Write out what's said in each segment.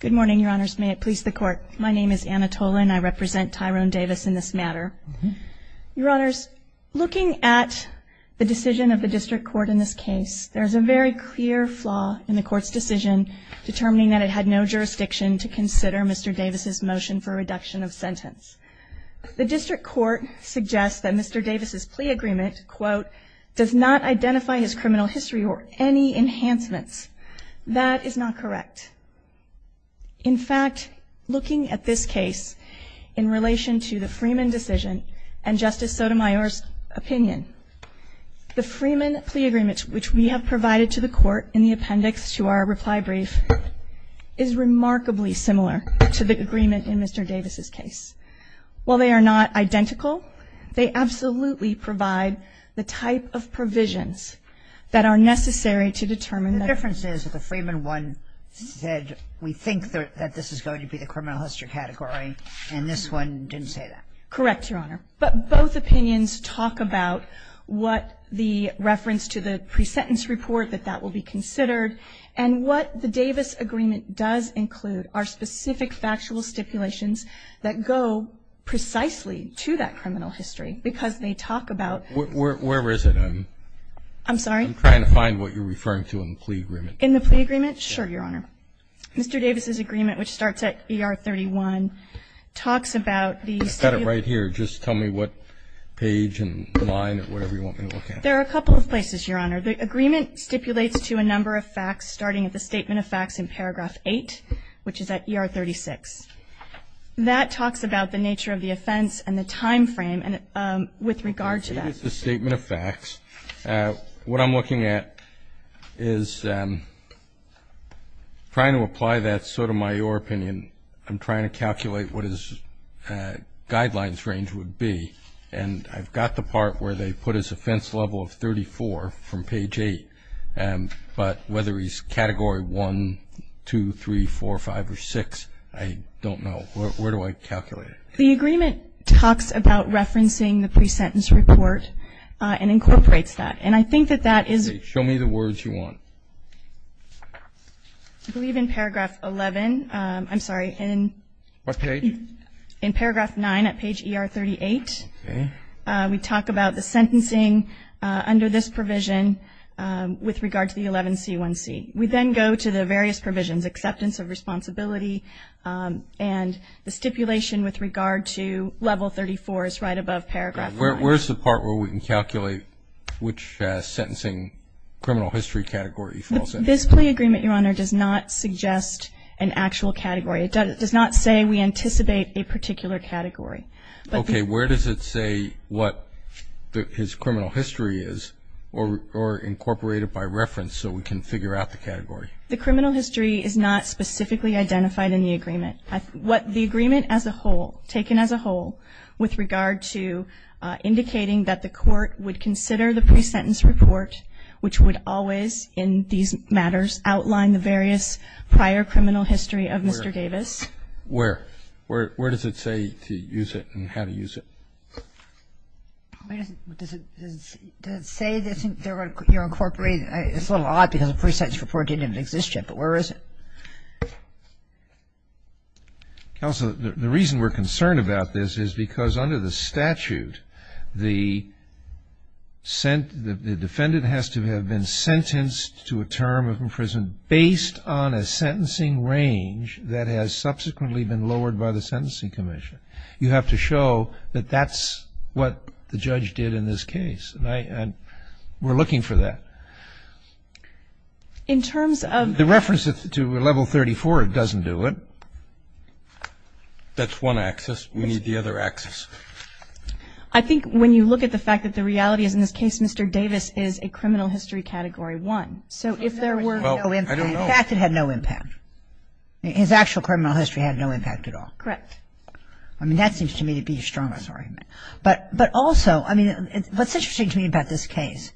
Good morning, your honors. May it please the court. My name is Anna Tola and I represent Tyrone Davis in this matter. Your honors, looking at the decision of the district court in this case, there's a very clear flaw in the court's decision determining that it had no jurisdiction to consider Mr. Davis's motion for reduction of sentence. The district court suggests that Mr. Davis's plea agreement, quote, does not identify his criminal history or any enhancements. That is not correct. In fact, looking at this case in relation to the Freeman decision and Justice Sotomayor's opinion, the Freeman plea agreement, which we have provided to the court in the appendix to our reply brief, is remarkably similar to the agreement in Mr. Davis's case. While they are not identical, they absolutely provide the type of provisions that are necessary to determine that. The difference is that the Freeman one said we think that this is going to be the criminal history category, and this one didn't say that. Correct, your honor. But both opinions talk about what the reference to the pre-sentence report, that that will be considered, and what the Davis agreement does include are specific factual stipulations that go precisely to that criminal history because they talk about. Where is it? I'm sorry. I'm trying to find what you're referring to in the plea agreement. In the plea agreement? Sure, your honor. Mr. Davis's agreement, which starts at ER 31, talks about the... I've got it right here. Just tell me what page and line or whatever you want me to look at. There are a couple of places, your honor. The agreement stipulates to a number of facts starting at the statement of facts in paragraph 8, which is at ER 36. That talks about the nature of the offense and the time frame with regard to that. The statement of facts. What I'm looking at is trying to apply that, so to my your opinion, I'm trying to calculate what his guidelines range would be, and I've got the part where they put his offense level of 34 from page 8, but whether he's category 1, 2, 3, 4, 5, or 6, I don't know. Where do I calculate it? The agreement talks about referencing the pre-sentence report and incorporates that, and I think that that is... Okay. Show me the words you want. I believe in paragraph 11. I'm sorry. What page? In paragraph 9 at page ER 38. Okay. We talk about the sentencing under this provision with regard to the 11C1C. We then go to the various provisions, acceptance of responsibility and the stipulation with regard to level 34 is right above paragraph 9. Where's the part where we can calculate which sentencing criminal history category falls in? This plea agreement, your honor, does not suggest an actual category. It does not say we anticipate a particular category. Okay. Where does it say what his criminal history is or incorporate it by reference so we can figure out the category? The criminal history is not specifically identified in the agreement. The agreement as a whole, taken as a whole, with regard to indicating that the court would consider the pre-sentence report, which would always in these matters outline the various prior criminal history of Mr. Davis. Where? Where? Where does it say to use it and how to use it? Does it say you're incorporating it? It's a little odd because the pre-sentence report didn't exist yet, but where is it? Counsel, the reason we're concerned about this is because under the statute, the defendant has to have been sentenced to a term of imprisonment based on a sentencing range that has subsequently been lowered by the Sentencing Commission. You have to show that that's what the judge did in this case. And we're looking for that. In terms of the reference to level 34, it doesn't do it. That's one axis. We need the other axis. I think when you look at the fact that the reality is, in this case, Mr. Davis is a criminal history Category 1. So if there were no impact. Well, I don't know. In fact, it had no impact. His actual criminal history had no impact at all. Correct. I mean, that seems to me to be his strongest argument. But also, I mean, what's interesting to me about this case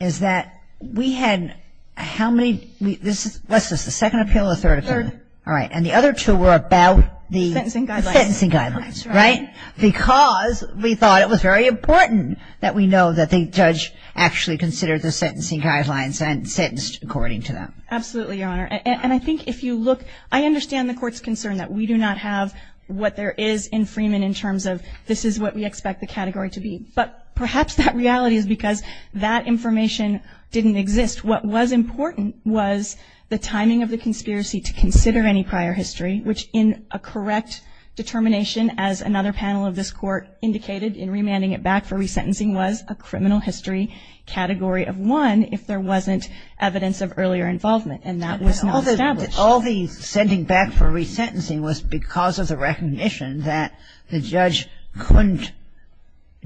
is that we had how many this is, what's this, the second appeal or the third appeal? Third. All right. And the other two were about the sentencing guidelines. Right? Because we thought it was very important that we know that the judge actually considered the sentencing guidelines and sentenced according to them. Absolutely, Your Honor. And I think if you look, I understand the Court's concern that we do not have what there is in Freeman in terms of this is what we expect the category to be. But perhaps that reality is because that information didn't exist. What was important was the timing of the conspiracy to consider any prior history, which in a correct determination, as another panel of this Court indicated, in remanding it back for resentencing was a criminal history category of one if there wasn't evidence of earlier involvement. And that was not established. All the sending back for resentencing was because of the recognition that the judge couldn't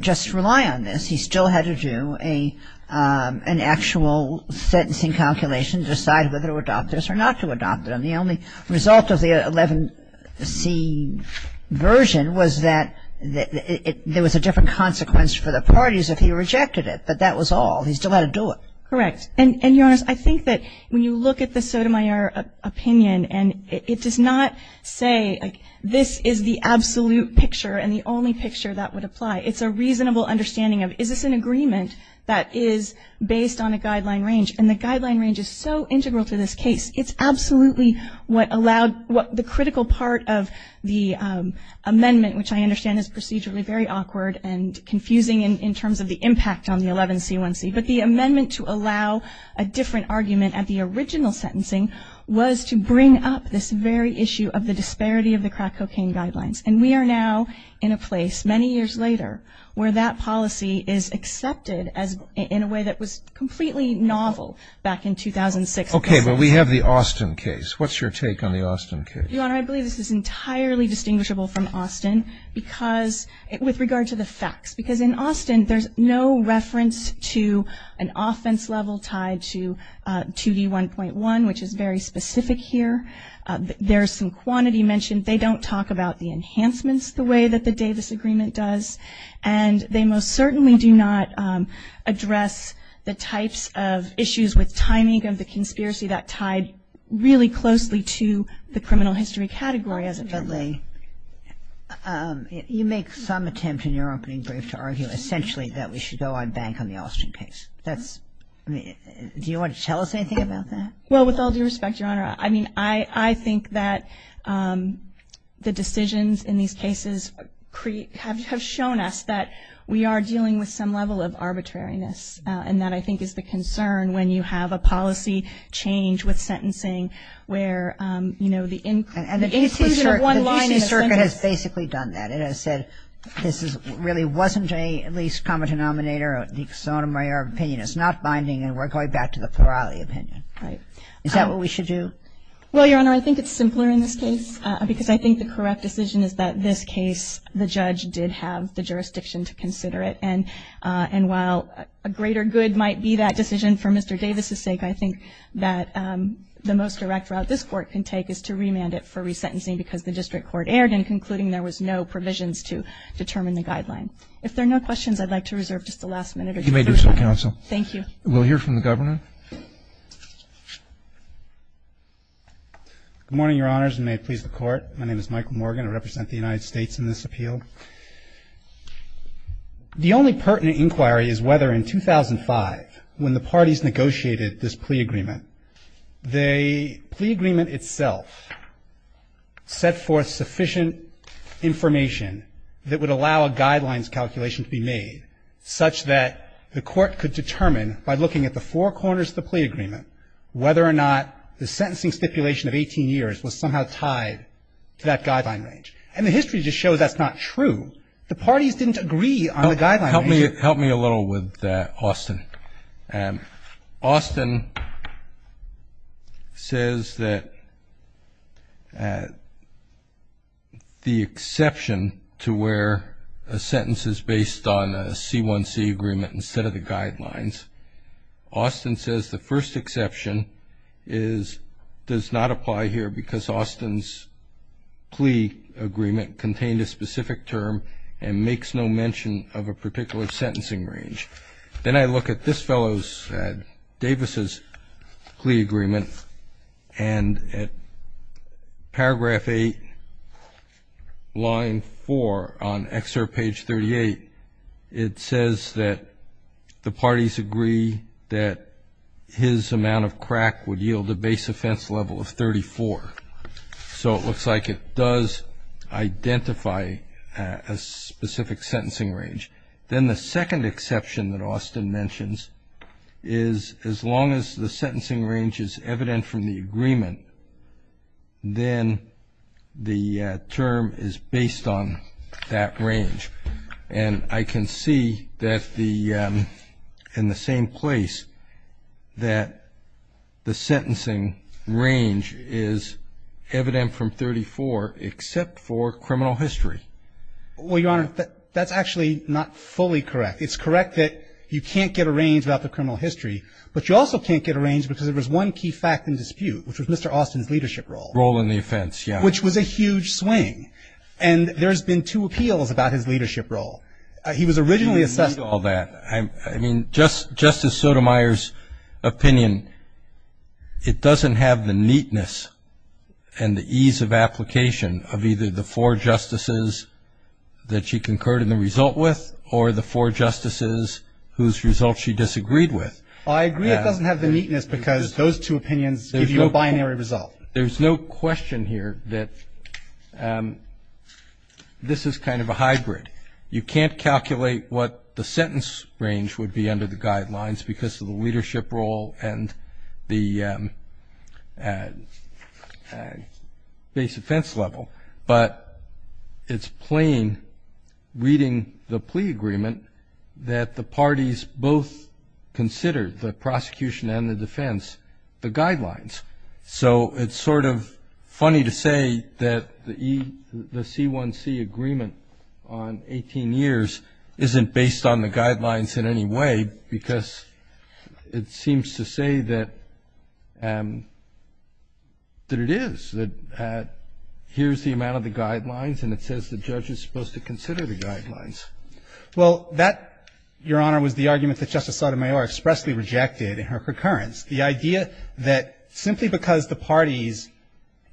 just rely on this. He still had to do an actual sentencing calculation to decide whether to adopt this or not to adopt it. And the only result of the 11C version was that there was a different consequence for the parties if he rejected it. But that was all. He still had to do it. Correct. And, Your Honor, I think that when you look at the Sotomayor opinion, and it does not say this is the absolute picture and the only picture that would apply. It's a reasonable understanding of is this an agreement that is based on a guideline range. And the guideline range is so integral to this case. It's absolutely what allowed the critical part of the amendment, which I understand is procedurally very awkward and confusing in terms of the impact on the 11C1C. But the amendment to allow a different argument at the original sentencing was to bring up this very issue of the disparity of the crack cocaine guidelines. And we are now in a place, many years later, where that policy is accepted in a way that was completely novel back in 2006. Okay. But we have the Austin case. What's your take on the Austin case? Your Honor, I believe this is entirely distinguishable from Austin with regard to the facts. Because in Austin, there's no reference to an offense level tied to 2D1.1, which is very specific here. There's some quantity mentioned. They don't talk about the enhancements the way that the Davis Agreement does. And they most certainly do not address the types of issues with timing of the conspiracy that tied really closely to the criminal history category as a family. You make some attempt in your opening brief to argue essentially that we should go on bank on the Austin case. Do you want to tell us anything about that? Well, with all due respect, Your Honor, I mean, I think that the decisions in these cases have shown us that we are dealing with some level of arbitrariness. And that, I think, is the concern when you have a policy change with sentencing where, you know, the inclusion of one line in a sentence. And the D.C. Circuit has basically done that. It has said this really wasn't a least common denominator, the exonomerary opinion is not binding and we're going back to the plurality opinion. Right. Is that what we should do? Well, Your Honor, I think it's simpler in this case because I think the correct decision is that this case, the judge did have the jurisdiction to consider it. And while a greater good might be that decision for Mr. Davis' sake, I think that the most direct route this Court can take is to remand it for resentencing because the district court erred in concluding there was no provisions to determine the guideline. If there are no questions, I'd like to reserve just the last minute. You may do so, Counsel. Thank you. We'll hear from the Governor. Good morning, Your Honors, and may it please the Court. My name is Michael Morgan. I represent the United States in this appeal. The only pertinent inquiry is whether in 2005 when the parties negotiated this plea agreement, the plea agreement itself set forth sufficient information that would allow a guidelines calculation to be made such that the Court could determine by looking at the four corners of the plea agreement whether or not the sentencing stipulation of 18 years was somehow tied to that guideline range. And the history just shows that's not true. The parties didn't agree on the guideline range. Help me a little with that, Austin. Austin says that the exception to where a sentence is based on a C1C agreement instead of the guidelines, Austin says the first exception does not apply here because Austin's plea agreement contained a specific term and makes no mention of a particular sentencing range. Then I look at this fellow's, Davis' plea agreement, and at paragraph 8, line 4, on excerpt page 38, it says that the parties agree that his amount of crack would yield a base offense level of 34. So it looks like it does identify a specific sentencing range. Then the second exception that Austin mentions is as long as the sentencing range is evident from the agreement, then the term is based on that range. And I can see that in the same place that the sentencing range is evident from 34 except for criminal history. Well, Your Honor, that's actually not fully correct. It's correct that you can't get a range about the criminal history, but you also can't get a range because there was one key fact in dispute, which was Mr. Austin's leadership role. Role in the offense, yeah. Which was a huge swing. And there's been two appeals about his leadership role. He was originally assessed. I mean, Justice Sotomayor's opinion, it doesn't have the neatness and the ease of application of either the four justices that she concurred in the result with or the four justices whose results she disagreed with. I agree it doesn't have the neatness because those two opinions give you a binary result. Well, there's no question here that this is kind of a hybrid. You can't calculate what the sentence range would be under the guidelines because of the leadership role and the base offense level, but it's plain reading the plea agreement that the parties both considered, the prosecution and the defense, the guidelines. So it's sort of funny to say that the C1C agreement on 18 years isn't based on the guidelines in any way because it seems to say that it is, that here's the amount of the guidelines and it says the judge is supposed to consider the guidelines. Well, that, Your Honor, was the argument that Justice Sotomayor expressly rejected in her concurrence. The idea that simply because the parties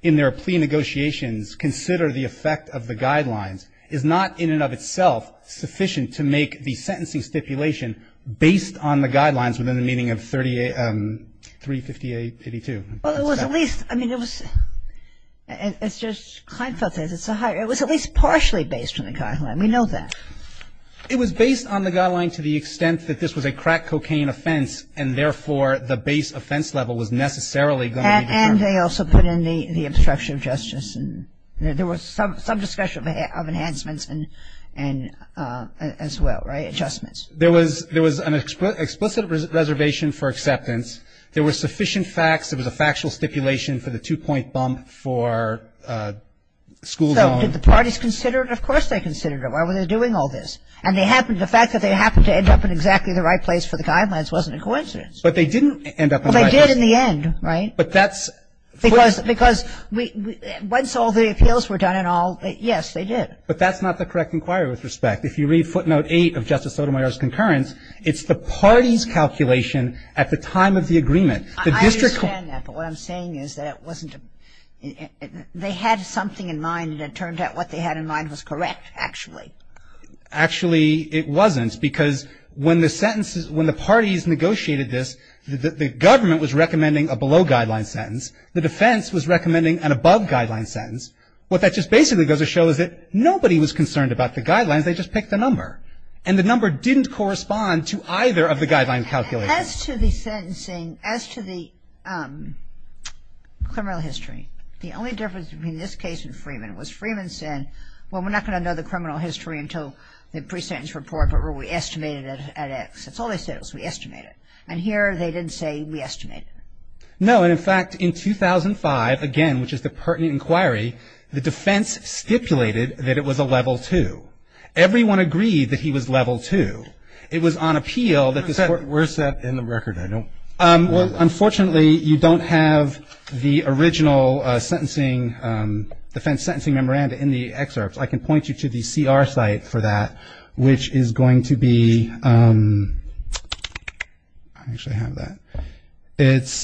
in their plea negotiations consider the effect of the guidelines is not in and of itself sufficient to make the sentencing stipulation based on the guidelines within the meaning of 358-82. Well, it was at least, I mean, it was, it's just, it's a hybrid. It was at least partially based on the guideline. We know that. It was based on the guideline to the extent that this was a crack cocaine offense and therefore the base offense level was necessarily going to be determined. And they also put in the obstruction of justice. There was some discussion of enhancements and as well, right, adjustments. There was an explicit reservation for acceptance. There were sufficient facts. There was a factual stipulation for the two-point bump for school zone. So did the parties consider it? Of course they considered it. Why were they doing all this? And they happened, the fact that they happened to end up in exactly the right place for the guidelines wasn't a coincidence. But they didn't end up in the right place. Well, they did in the end, right? But that's footnote. Because once all the appeals were done and all, yes, they did. But that's not the correct inquiry with respect. If you read footnote 8 of Justice Sotomayor's concurrence, it's the party's calculation at the time of the agreement. I understand that, but what I'm saying is that it wasn't, they had something in mind and it turned out what they had in mind was correct, actually. Actually, it wasn't because when the sentences, when the parties negotiated this, the government was recommending a below-guideline sentence. The defense was recommending an above-guideline sentence. What that just basically goes to show is that nobody was concerned about the guidelines. They just picked a number. And the number didn't correspond to either of the guideline calculators. As to the sentencing, as to the criminal history, the only difference between this case and Freeman was Freeman said, well, we're not going to know the criminal history until the pre-sentence report, but where we estimate it at X. That's all they said was we estimate it. And here they didn't say we estimate it. No. And, in fact, in 2005, again, which is the pertinent inquiry, the defense stipulated that it was a level 2. Everyone agreed that he was level 2. It was on appeal that the court ---- We're set in the record. I don't ---- Unfortunately, you don't have the original sentencing, defense sentencing memoranda in the excerpts. I can point you to the CR site for that, which is going to be ---- I actually have that. It's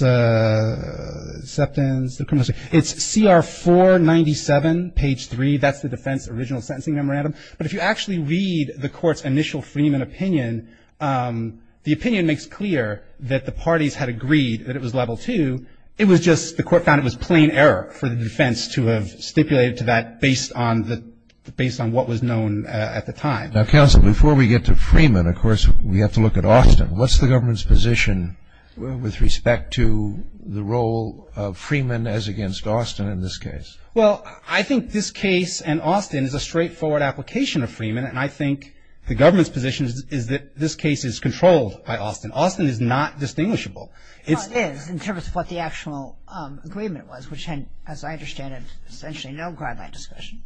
CR 497, page 3. That's the defense original sentencing memorandum. But if you actually read the court's initial Freeman opinion, the opinion makes clear that the parties had agreed that it was level 2. It was just the court found it was plain error for the defense to have stipulated to that based on what was known at the time. Now, counsel, before we get to Freeman, of course, we have to look at Austin. What's the government's position with respect to the role of Freeman as against Austin in this case? Well, I think this case and Austin is a straightforward application of Freeman, and I think the government's position is that this case is controlled by Austin. Austin is not distinguishable. Well, it is in terms of what the actual agreement was, which had, as I understand it, essentially no guideline discussion.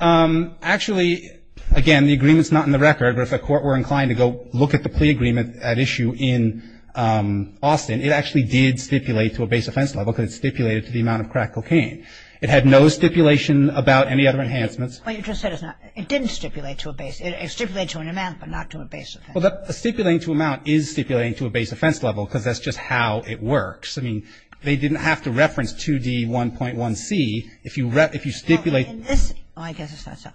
Actually, again, the agreement's not in the record, but if the court were inclined to go look at the plea agreement at issue in Austin, it actually did stipulate to a base offense level because it stipulated to the amount of crack cocaine. It had no stipulation about any other enhancements. Well, you just said it's not. It didn't stipulate to a base. It stipulated to an amount, but not to a base offense. Well, the stipulating to amount is stipulating to a base offense level because that's just how it works. I mean, they didn't have to reference 2D1.1c if you stipulate. I guess it's not so.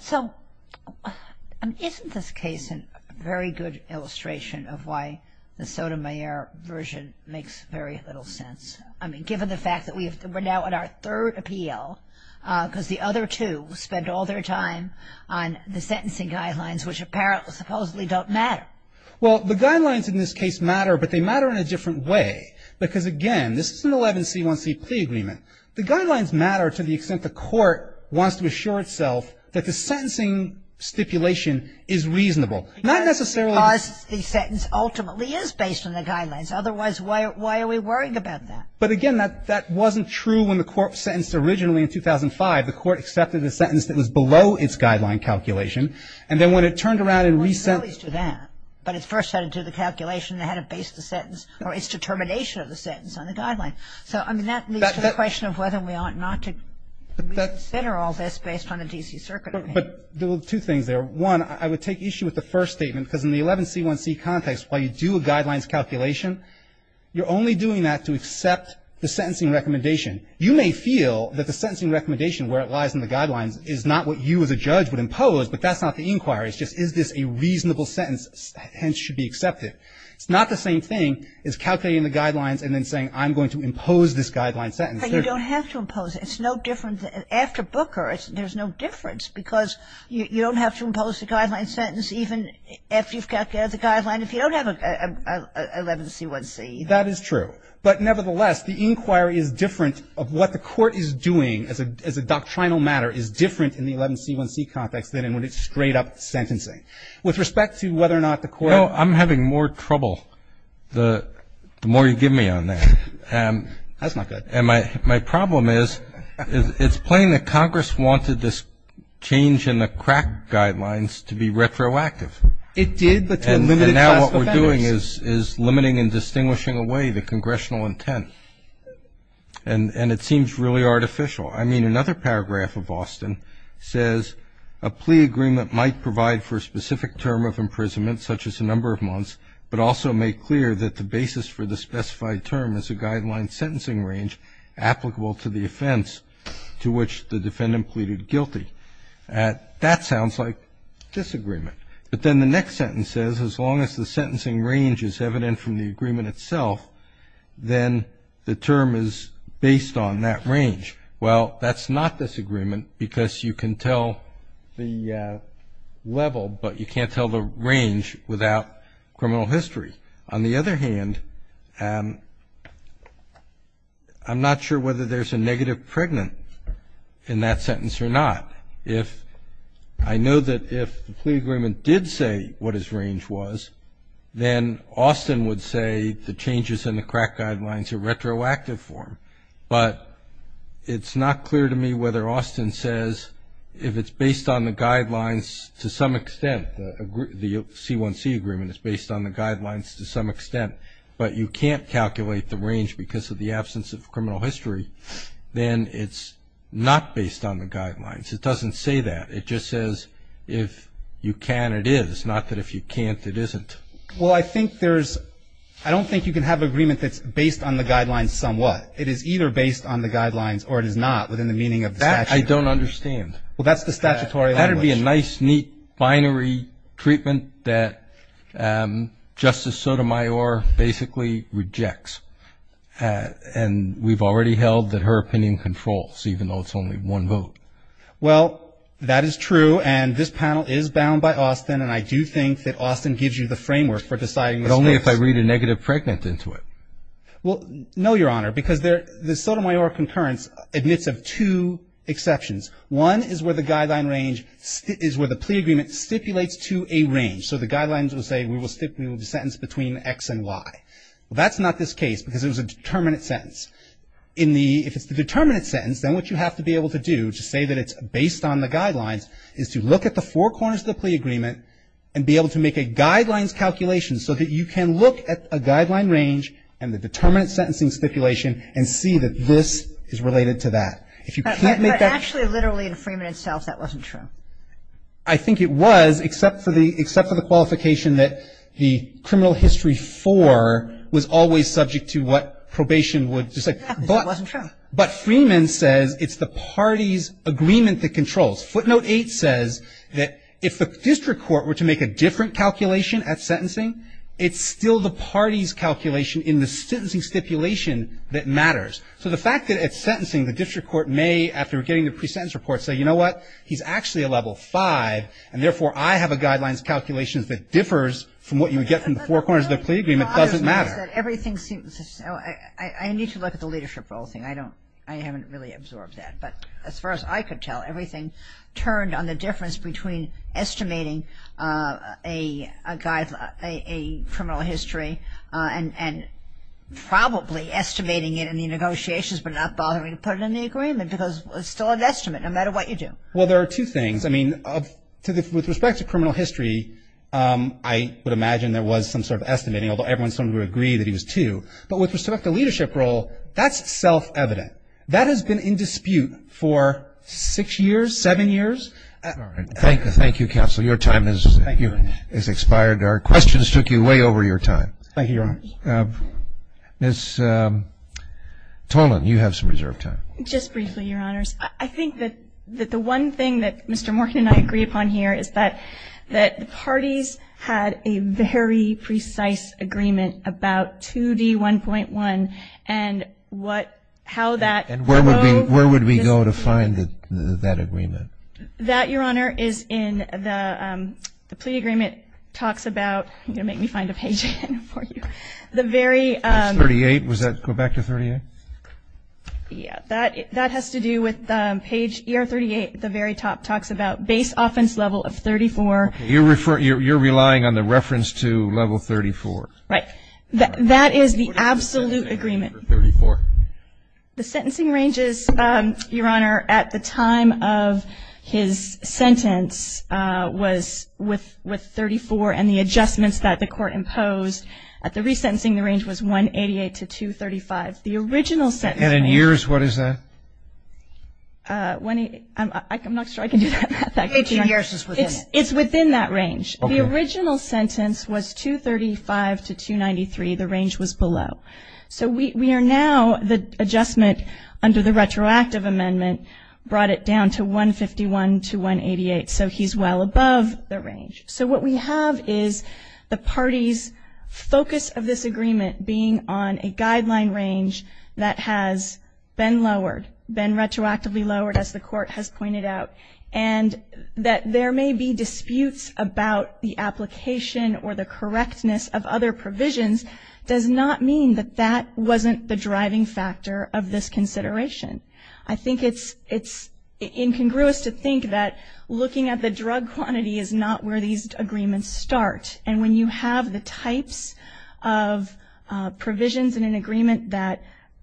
So isn't this case a very good illustration of why the Sotomayor version makes very little sense? I mean, given the fact that we're now at our third appeal because the other two spent all their time on the sentencing guidelines, which apparently supposedly don't matter. Well, the guidelines in this case matter, but they matter in a different way because, again, this is an 11c1c plea agreement. The guidelines matter to the extent the court wants to assure itself that the sentencing stipulation is reasonable. Not necessarily because the sentence ultimately is based on the guidelines. Otherwise, why are we worrying about that? But, again, that wasn't true when the court sentenced originally in 2005. The court accepted a sentence that was below its guideline calculation. And then when it turned around and re-sentenced. Well, you can always do that. But it first had to do the calculation. It had to base the sentence or its determination of the sentence on the guideline. So, I mean, that leads to the question of whether we ought not to consider all this based on a D.C. Circuit opinion. Well, two things there. One, I would take issue with the first statement because in the 11c1c context, while you do a guidelines calculation, you're only doing that to accept the sentencing recommendation. You may feel that the sentencing recommendation, where it lies in the guidelines, is not what you as a judge would impose, but that's not the inquiry. It's just is this a reasonable sentence, hence should be accepted. It's not the same thing as calculating the guidelines and then saying I'm going to impose this guideline sentence. But you don't have to impose it. It's no different. After Booker, there's no difference because you don't have to impose the guideline sentence even after you've calculated the guideline. And if you don't have an 11c1c. That is true. But nevertheless, the inquiry is different of what the Court is doing as a doctrinal matter is different in the 11c1c context than in when it's straight up sentencing. With respect to whether or not the Court. No, I'm having more trouble the more you give me on that. That's not good. And my problem is it's plain that Congress wanted this change in the crack guidelines to be retroactive. It did, but to a limited class of offenders. And now what we're doing is limiting and distinguishing away the congressional intent. And it seems really artificial. I mean, another paragraph of Austin says, a plea agreement might provide for a specific term of imprisonment, such as a number of months, but also make clear that the basis for the specified term is a guideline sentencing range applicable to the offense to which the defendant pleaded guilty. That sounds like disagreement. But then the next sentence says, as long as the sentencing range is evident from the agreement itself, then the term is based on that range. Well, that's not disagreement because you can tell the level, but you can't tell the range without criminal history. On the other hand, I'm not sure whether there's a negative pregnant in that sentence or not. I know that if the plea agreement did say what his range was, then Austin would say the changes in the crack guidelines are retroactive for him. But it's not clear to me whether Austin says if it's based on the guidelines to some extent, the C1C agreement is based on the guidelines to some extent, but you can't calculate the range because of the absence of criminal history, then it's not based on the guidelines. It doesn't say that. It just says if you can, it is, not that if you can't, it isn't. Well, I think there's – I don't think you can have an agreement that's based on the guidelines somewhat. It is either based on the guidelines or it is not within the meaning of the statute. That I don't understand. Well, that's the statutory language. That would be a nice, neat, binary treatment that Justice Sotomayor basically rejects, and we've already held that her opinion controls, even though it's only one vote. Well, that is true, and this panel is bound by Austin, and I do think that Austin gives you the framework for deciding this case. But only if I read a negative pregnant into it. Well, no, Your Honor, because the Sotomayor concurrence admits of two exceptions. One is where the guideline range is where the plea agreement stipulates to a range. So the guidelines will say we will stipulate a sentence between X and Y. Well, that's not this case because it was a determinate sentence. In the – if it's the determinate sentence, then what you have to be able to do to say that it's based on the guidelines is to look at the four corners of the plea agreement and be able to make a guidelines calculation so that you can look at a guideline range and the determinate sentencing stipulation and see that this is related to that. If you can't make that – But actually, literally, in Freeman itself, that wasn't true. I think it was, except for the qualification that the criminal history four was always subject to what probation would – Exactly. It wasn't true. But Freeman says it's the party's agreement that controls. Footnote 8 says that if the district court were to make a different calculation at sentencing, it's still the party's calculation in the sentencing stipulation that matters. So the fact that at sentencing, the district court may, after getting the pre-sentence report, say, you know what? He's actually a level five, and therefore, I have a guidelines calculation that differs from what you would get from the four corners of the plea agreement doesn't matter. Everything seems – I need to look at the leadership role thing. I don't – I haven't really absorbed that. But as far as I could tell, everything turned on the difference between estimating a criminal history and probably estimating it in the negotiations but not bothering to put it in the agreement because it's still an estimate no matter what you do. Well, there are two things. I mean, with respect to criminal history, I would imagine there was some sort of estimating, although everyone seemed to agree that he was two. But with respect to leadership role, that's self-evident. That has been in dispute for six years, seven years. Thank you, counsel. Your time has expired. Our questions took you way over your time. Thank you, Your Honor. Ms. Tolan, you have some reserved time. Just briefly, Your Honors. I think that the one thing that Mr. Morkin and I agree upon here is that the parties had a very precise agreement about 2D1.1 and what – how that – And where would we go to find that agreement? That, Your Honor, is in the plea agreement talks about – I'm going to make me find a page again for you. The very – Page 38. Was that – go back to 38? Yeah. That has to do with page 38 at the very top. It talks about base offense level of 34. You're relying on the reference to level 34. Right. That is the absolute agreement. What is the sentencing range for 34? The sentencing range is, Your Honor, at the time of his sentence was with 34, and the adjustments that the court imposed at the resentencing range was 188 to 235. The original sentencing range – And in years, what is that? I'm not sure I can do that. 18 years is within it. It's within that range. The original sentence was 235 to 293. The range was below. So we are now – the adjustment under the retroactive amendment brought it down to 151 to 188. So he's well above the range. So what we have is the party's focus of this agreement being on a guideline range that has been lowered, been retroactively lowered, as the court has pointed out, and that there may be disputes about the application or the correctness of other provisions does not mean that that wasn't the driving factor of this consideration. I think it's incongruous to think that looking at the drug quantity is not where these agreements start. And when you have the types of provisions in an agreement that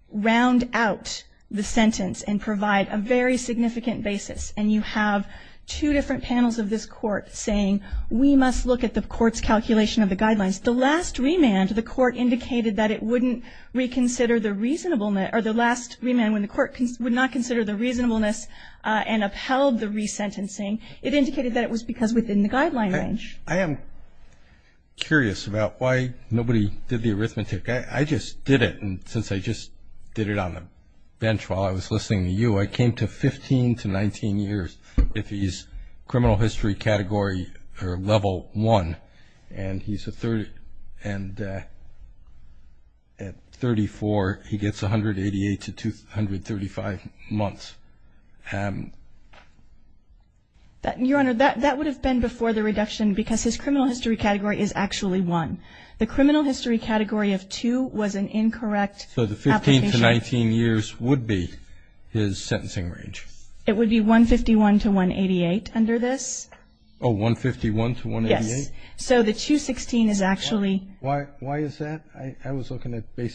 round out the sentence and provide a very significant basis, and you have two different panels of this court saying, we must look at the court's calculation of the guidelines. The last remand the court indicated that it wouldn't reconsider the reasonableness – or the last remand when the court would not consider the reasonableness and upheld the resentencing, it indicated that it was because within the guideline range. I am curious about why nobody did the arithmetic. I just did it, and since I just did it on the bench while I was listening to you, I came to 15 to 19 years if he's criminal history category or level one, and at 34 he gets 188 to 235 months. Your Honor, that would have been before the reduction because his criminal history category is actually one. The criminal history category of two was an incorrect application. So the 15 to 19 years would be his sentencing range. It would be 151 to 188 under this. Oh, 151 to 188? Yes. So the 216 is actually – Why is that? I was looking at the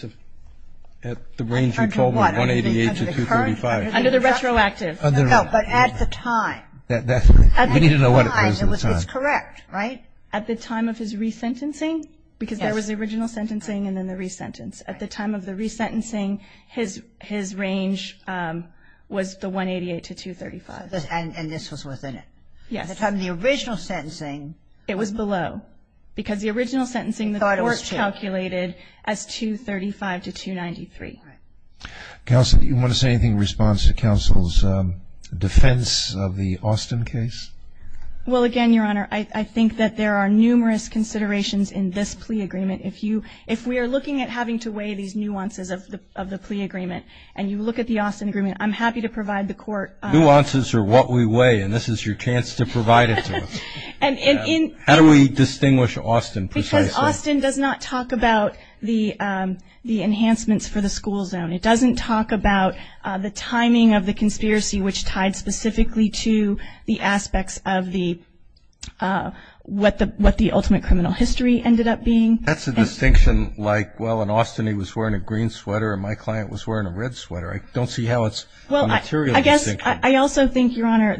range you told me, 188 to 235. Under the retroactive. No, but at the time. You need to know what it was at the time. It's correct, right? At the time of his resentencing, because there was the original sentencing and then the resentence. At the time of the resentencing, his range was the 188 to 235. And this was within it. Yes. At the time of the original sentencing. It was below. Because the original sentencing the court calculated as 235 to 293. Counsel, do you want to say anything in response to counsel's defense of the Austin case? Well, again, Your Honor, I think that there are numerous considerations in this plea agreement. If we are looking at having to weigh these nuances of the plea agreement and you look at the Austin agreement, I'm happy to provide the court. Nuances are what we weigh, and this is your chance to provide it to us. How do we distinguish Austin precisely? Because Austin does not talk about the enhancements for the school zone. It doesn't talk about the timing of the conspiracy, which tied specifically to the aspects of what the ultimate criminal history ended up being. That's a distinction like, well, in Austin he was wearing a green sweater and my client was wearing a red sweater. I don't see how it's a material distinction. Well, I guess I also think, Your Honor,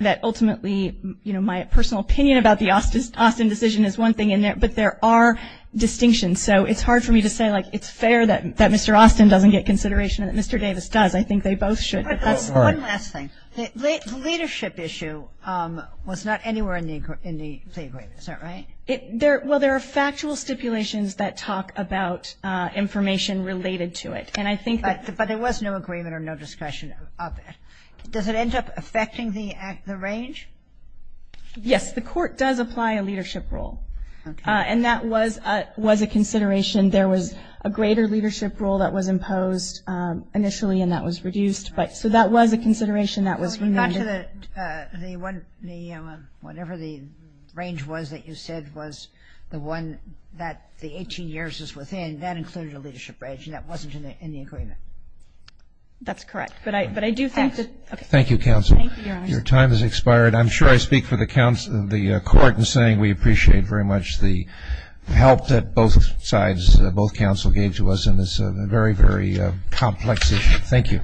that ultimately, you know, my personal opinion about the Austin decision is one thing, but there are distinctions. So it's hard for me to say, like, it's fair that Mr. Austin doesn't get consideration and that Mr. Davis does. I think they both should. One last thing. The leadership issue was not anywhere in the plea agreement. Is that right? Well, there are factual stipulations that talk about information related to it. And I think that But there was no agreement or no discussion of it. Does it end up affecting the range? Yes, the court does apply a leadership role. And that was a consideration. There was a greater leadership role that was imposed initially, and that was reduced. So that was a consideration that was Well, if you got to the one, whatever the range was that you said was the one that the 18 years is within, then that included a leadership range, and that wasn't in the agreement. That's correct. But I do think that Thank you, counsel. Your time has expired. I'm sure I speak for the court in saying we appreciate very much the help that both sides, both counsel gave to us in this very, very complex issue. Thank you.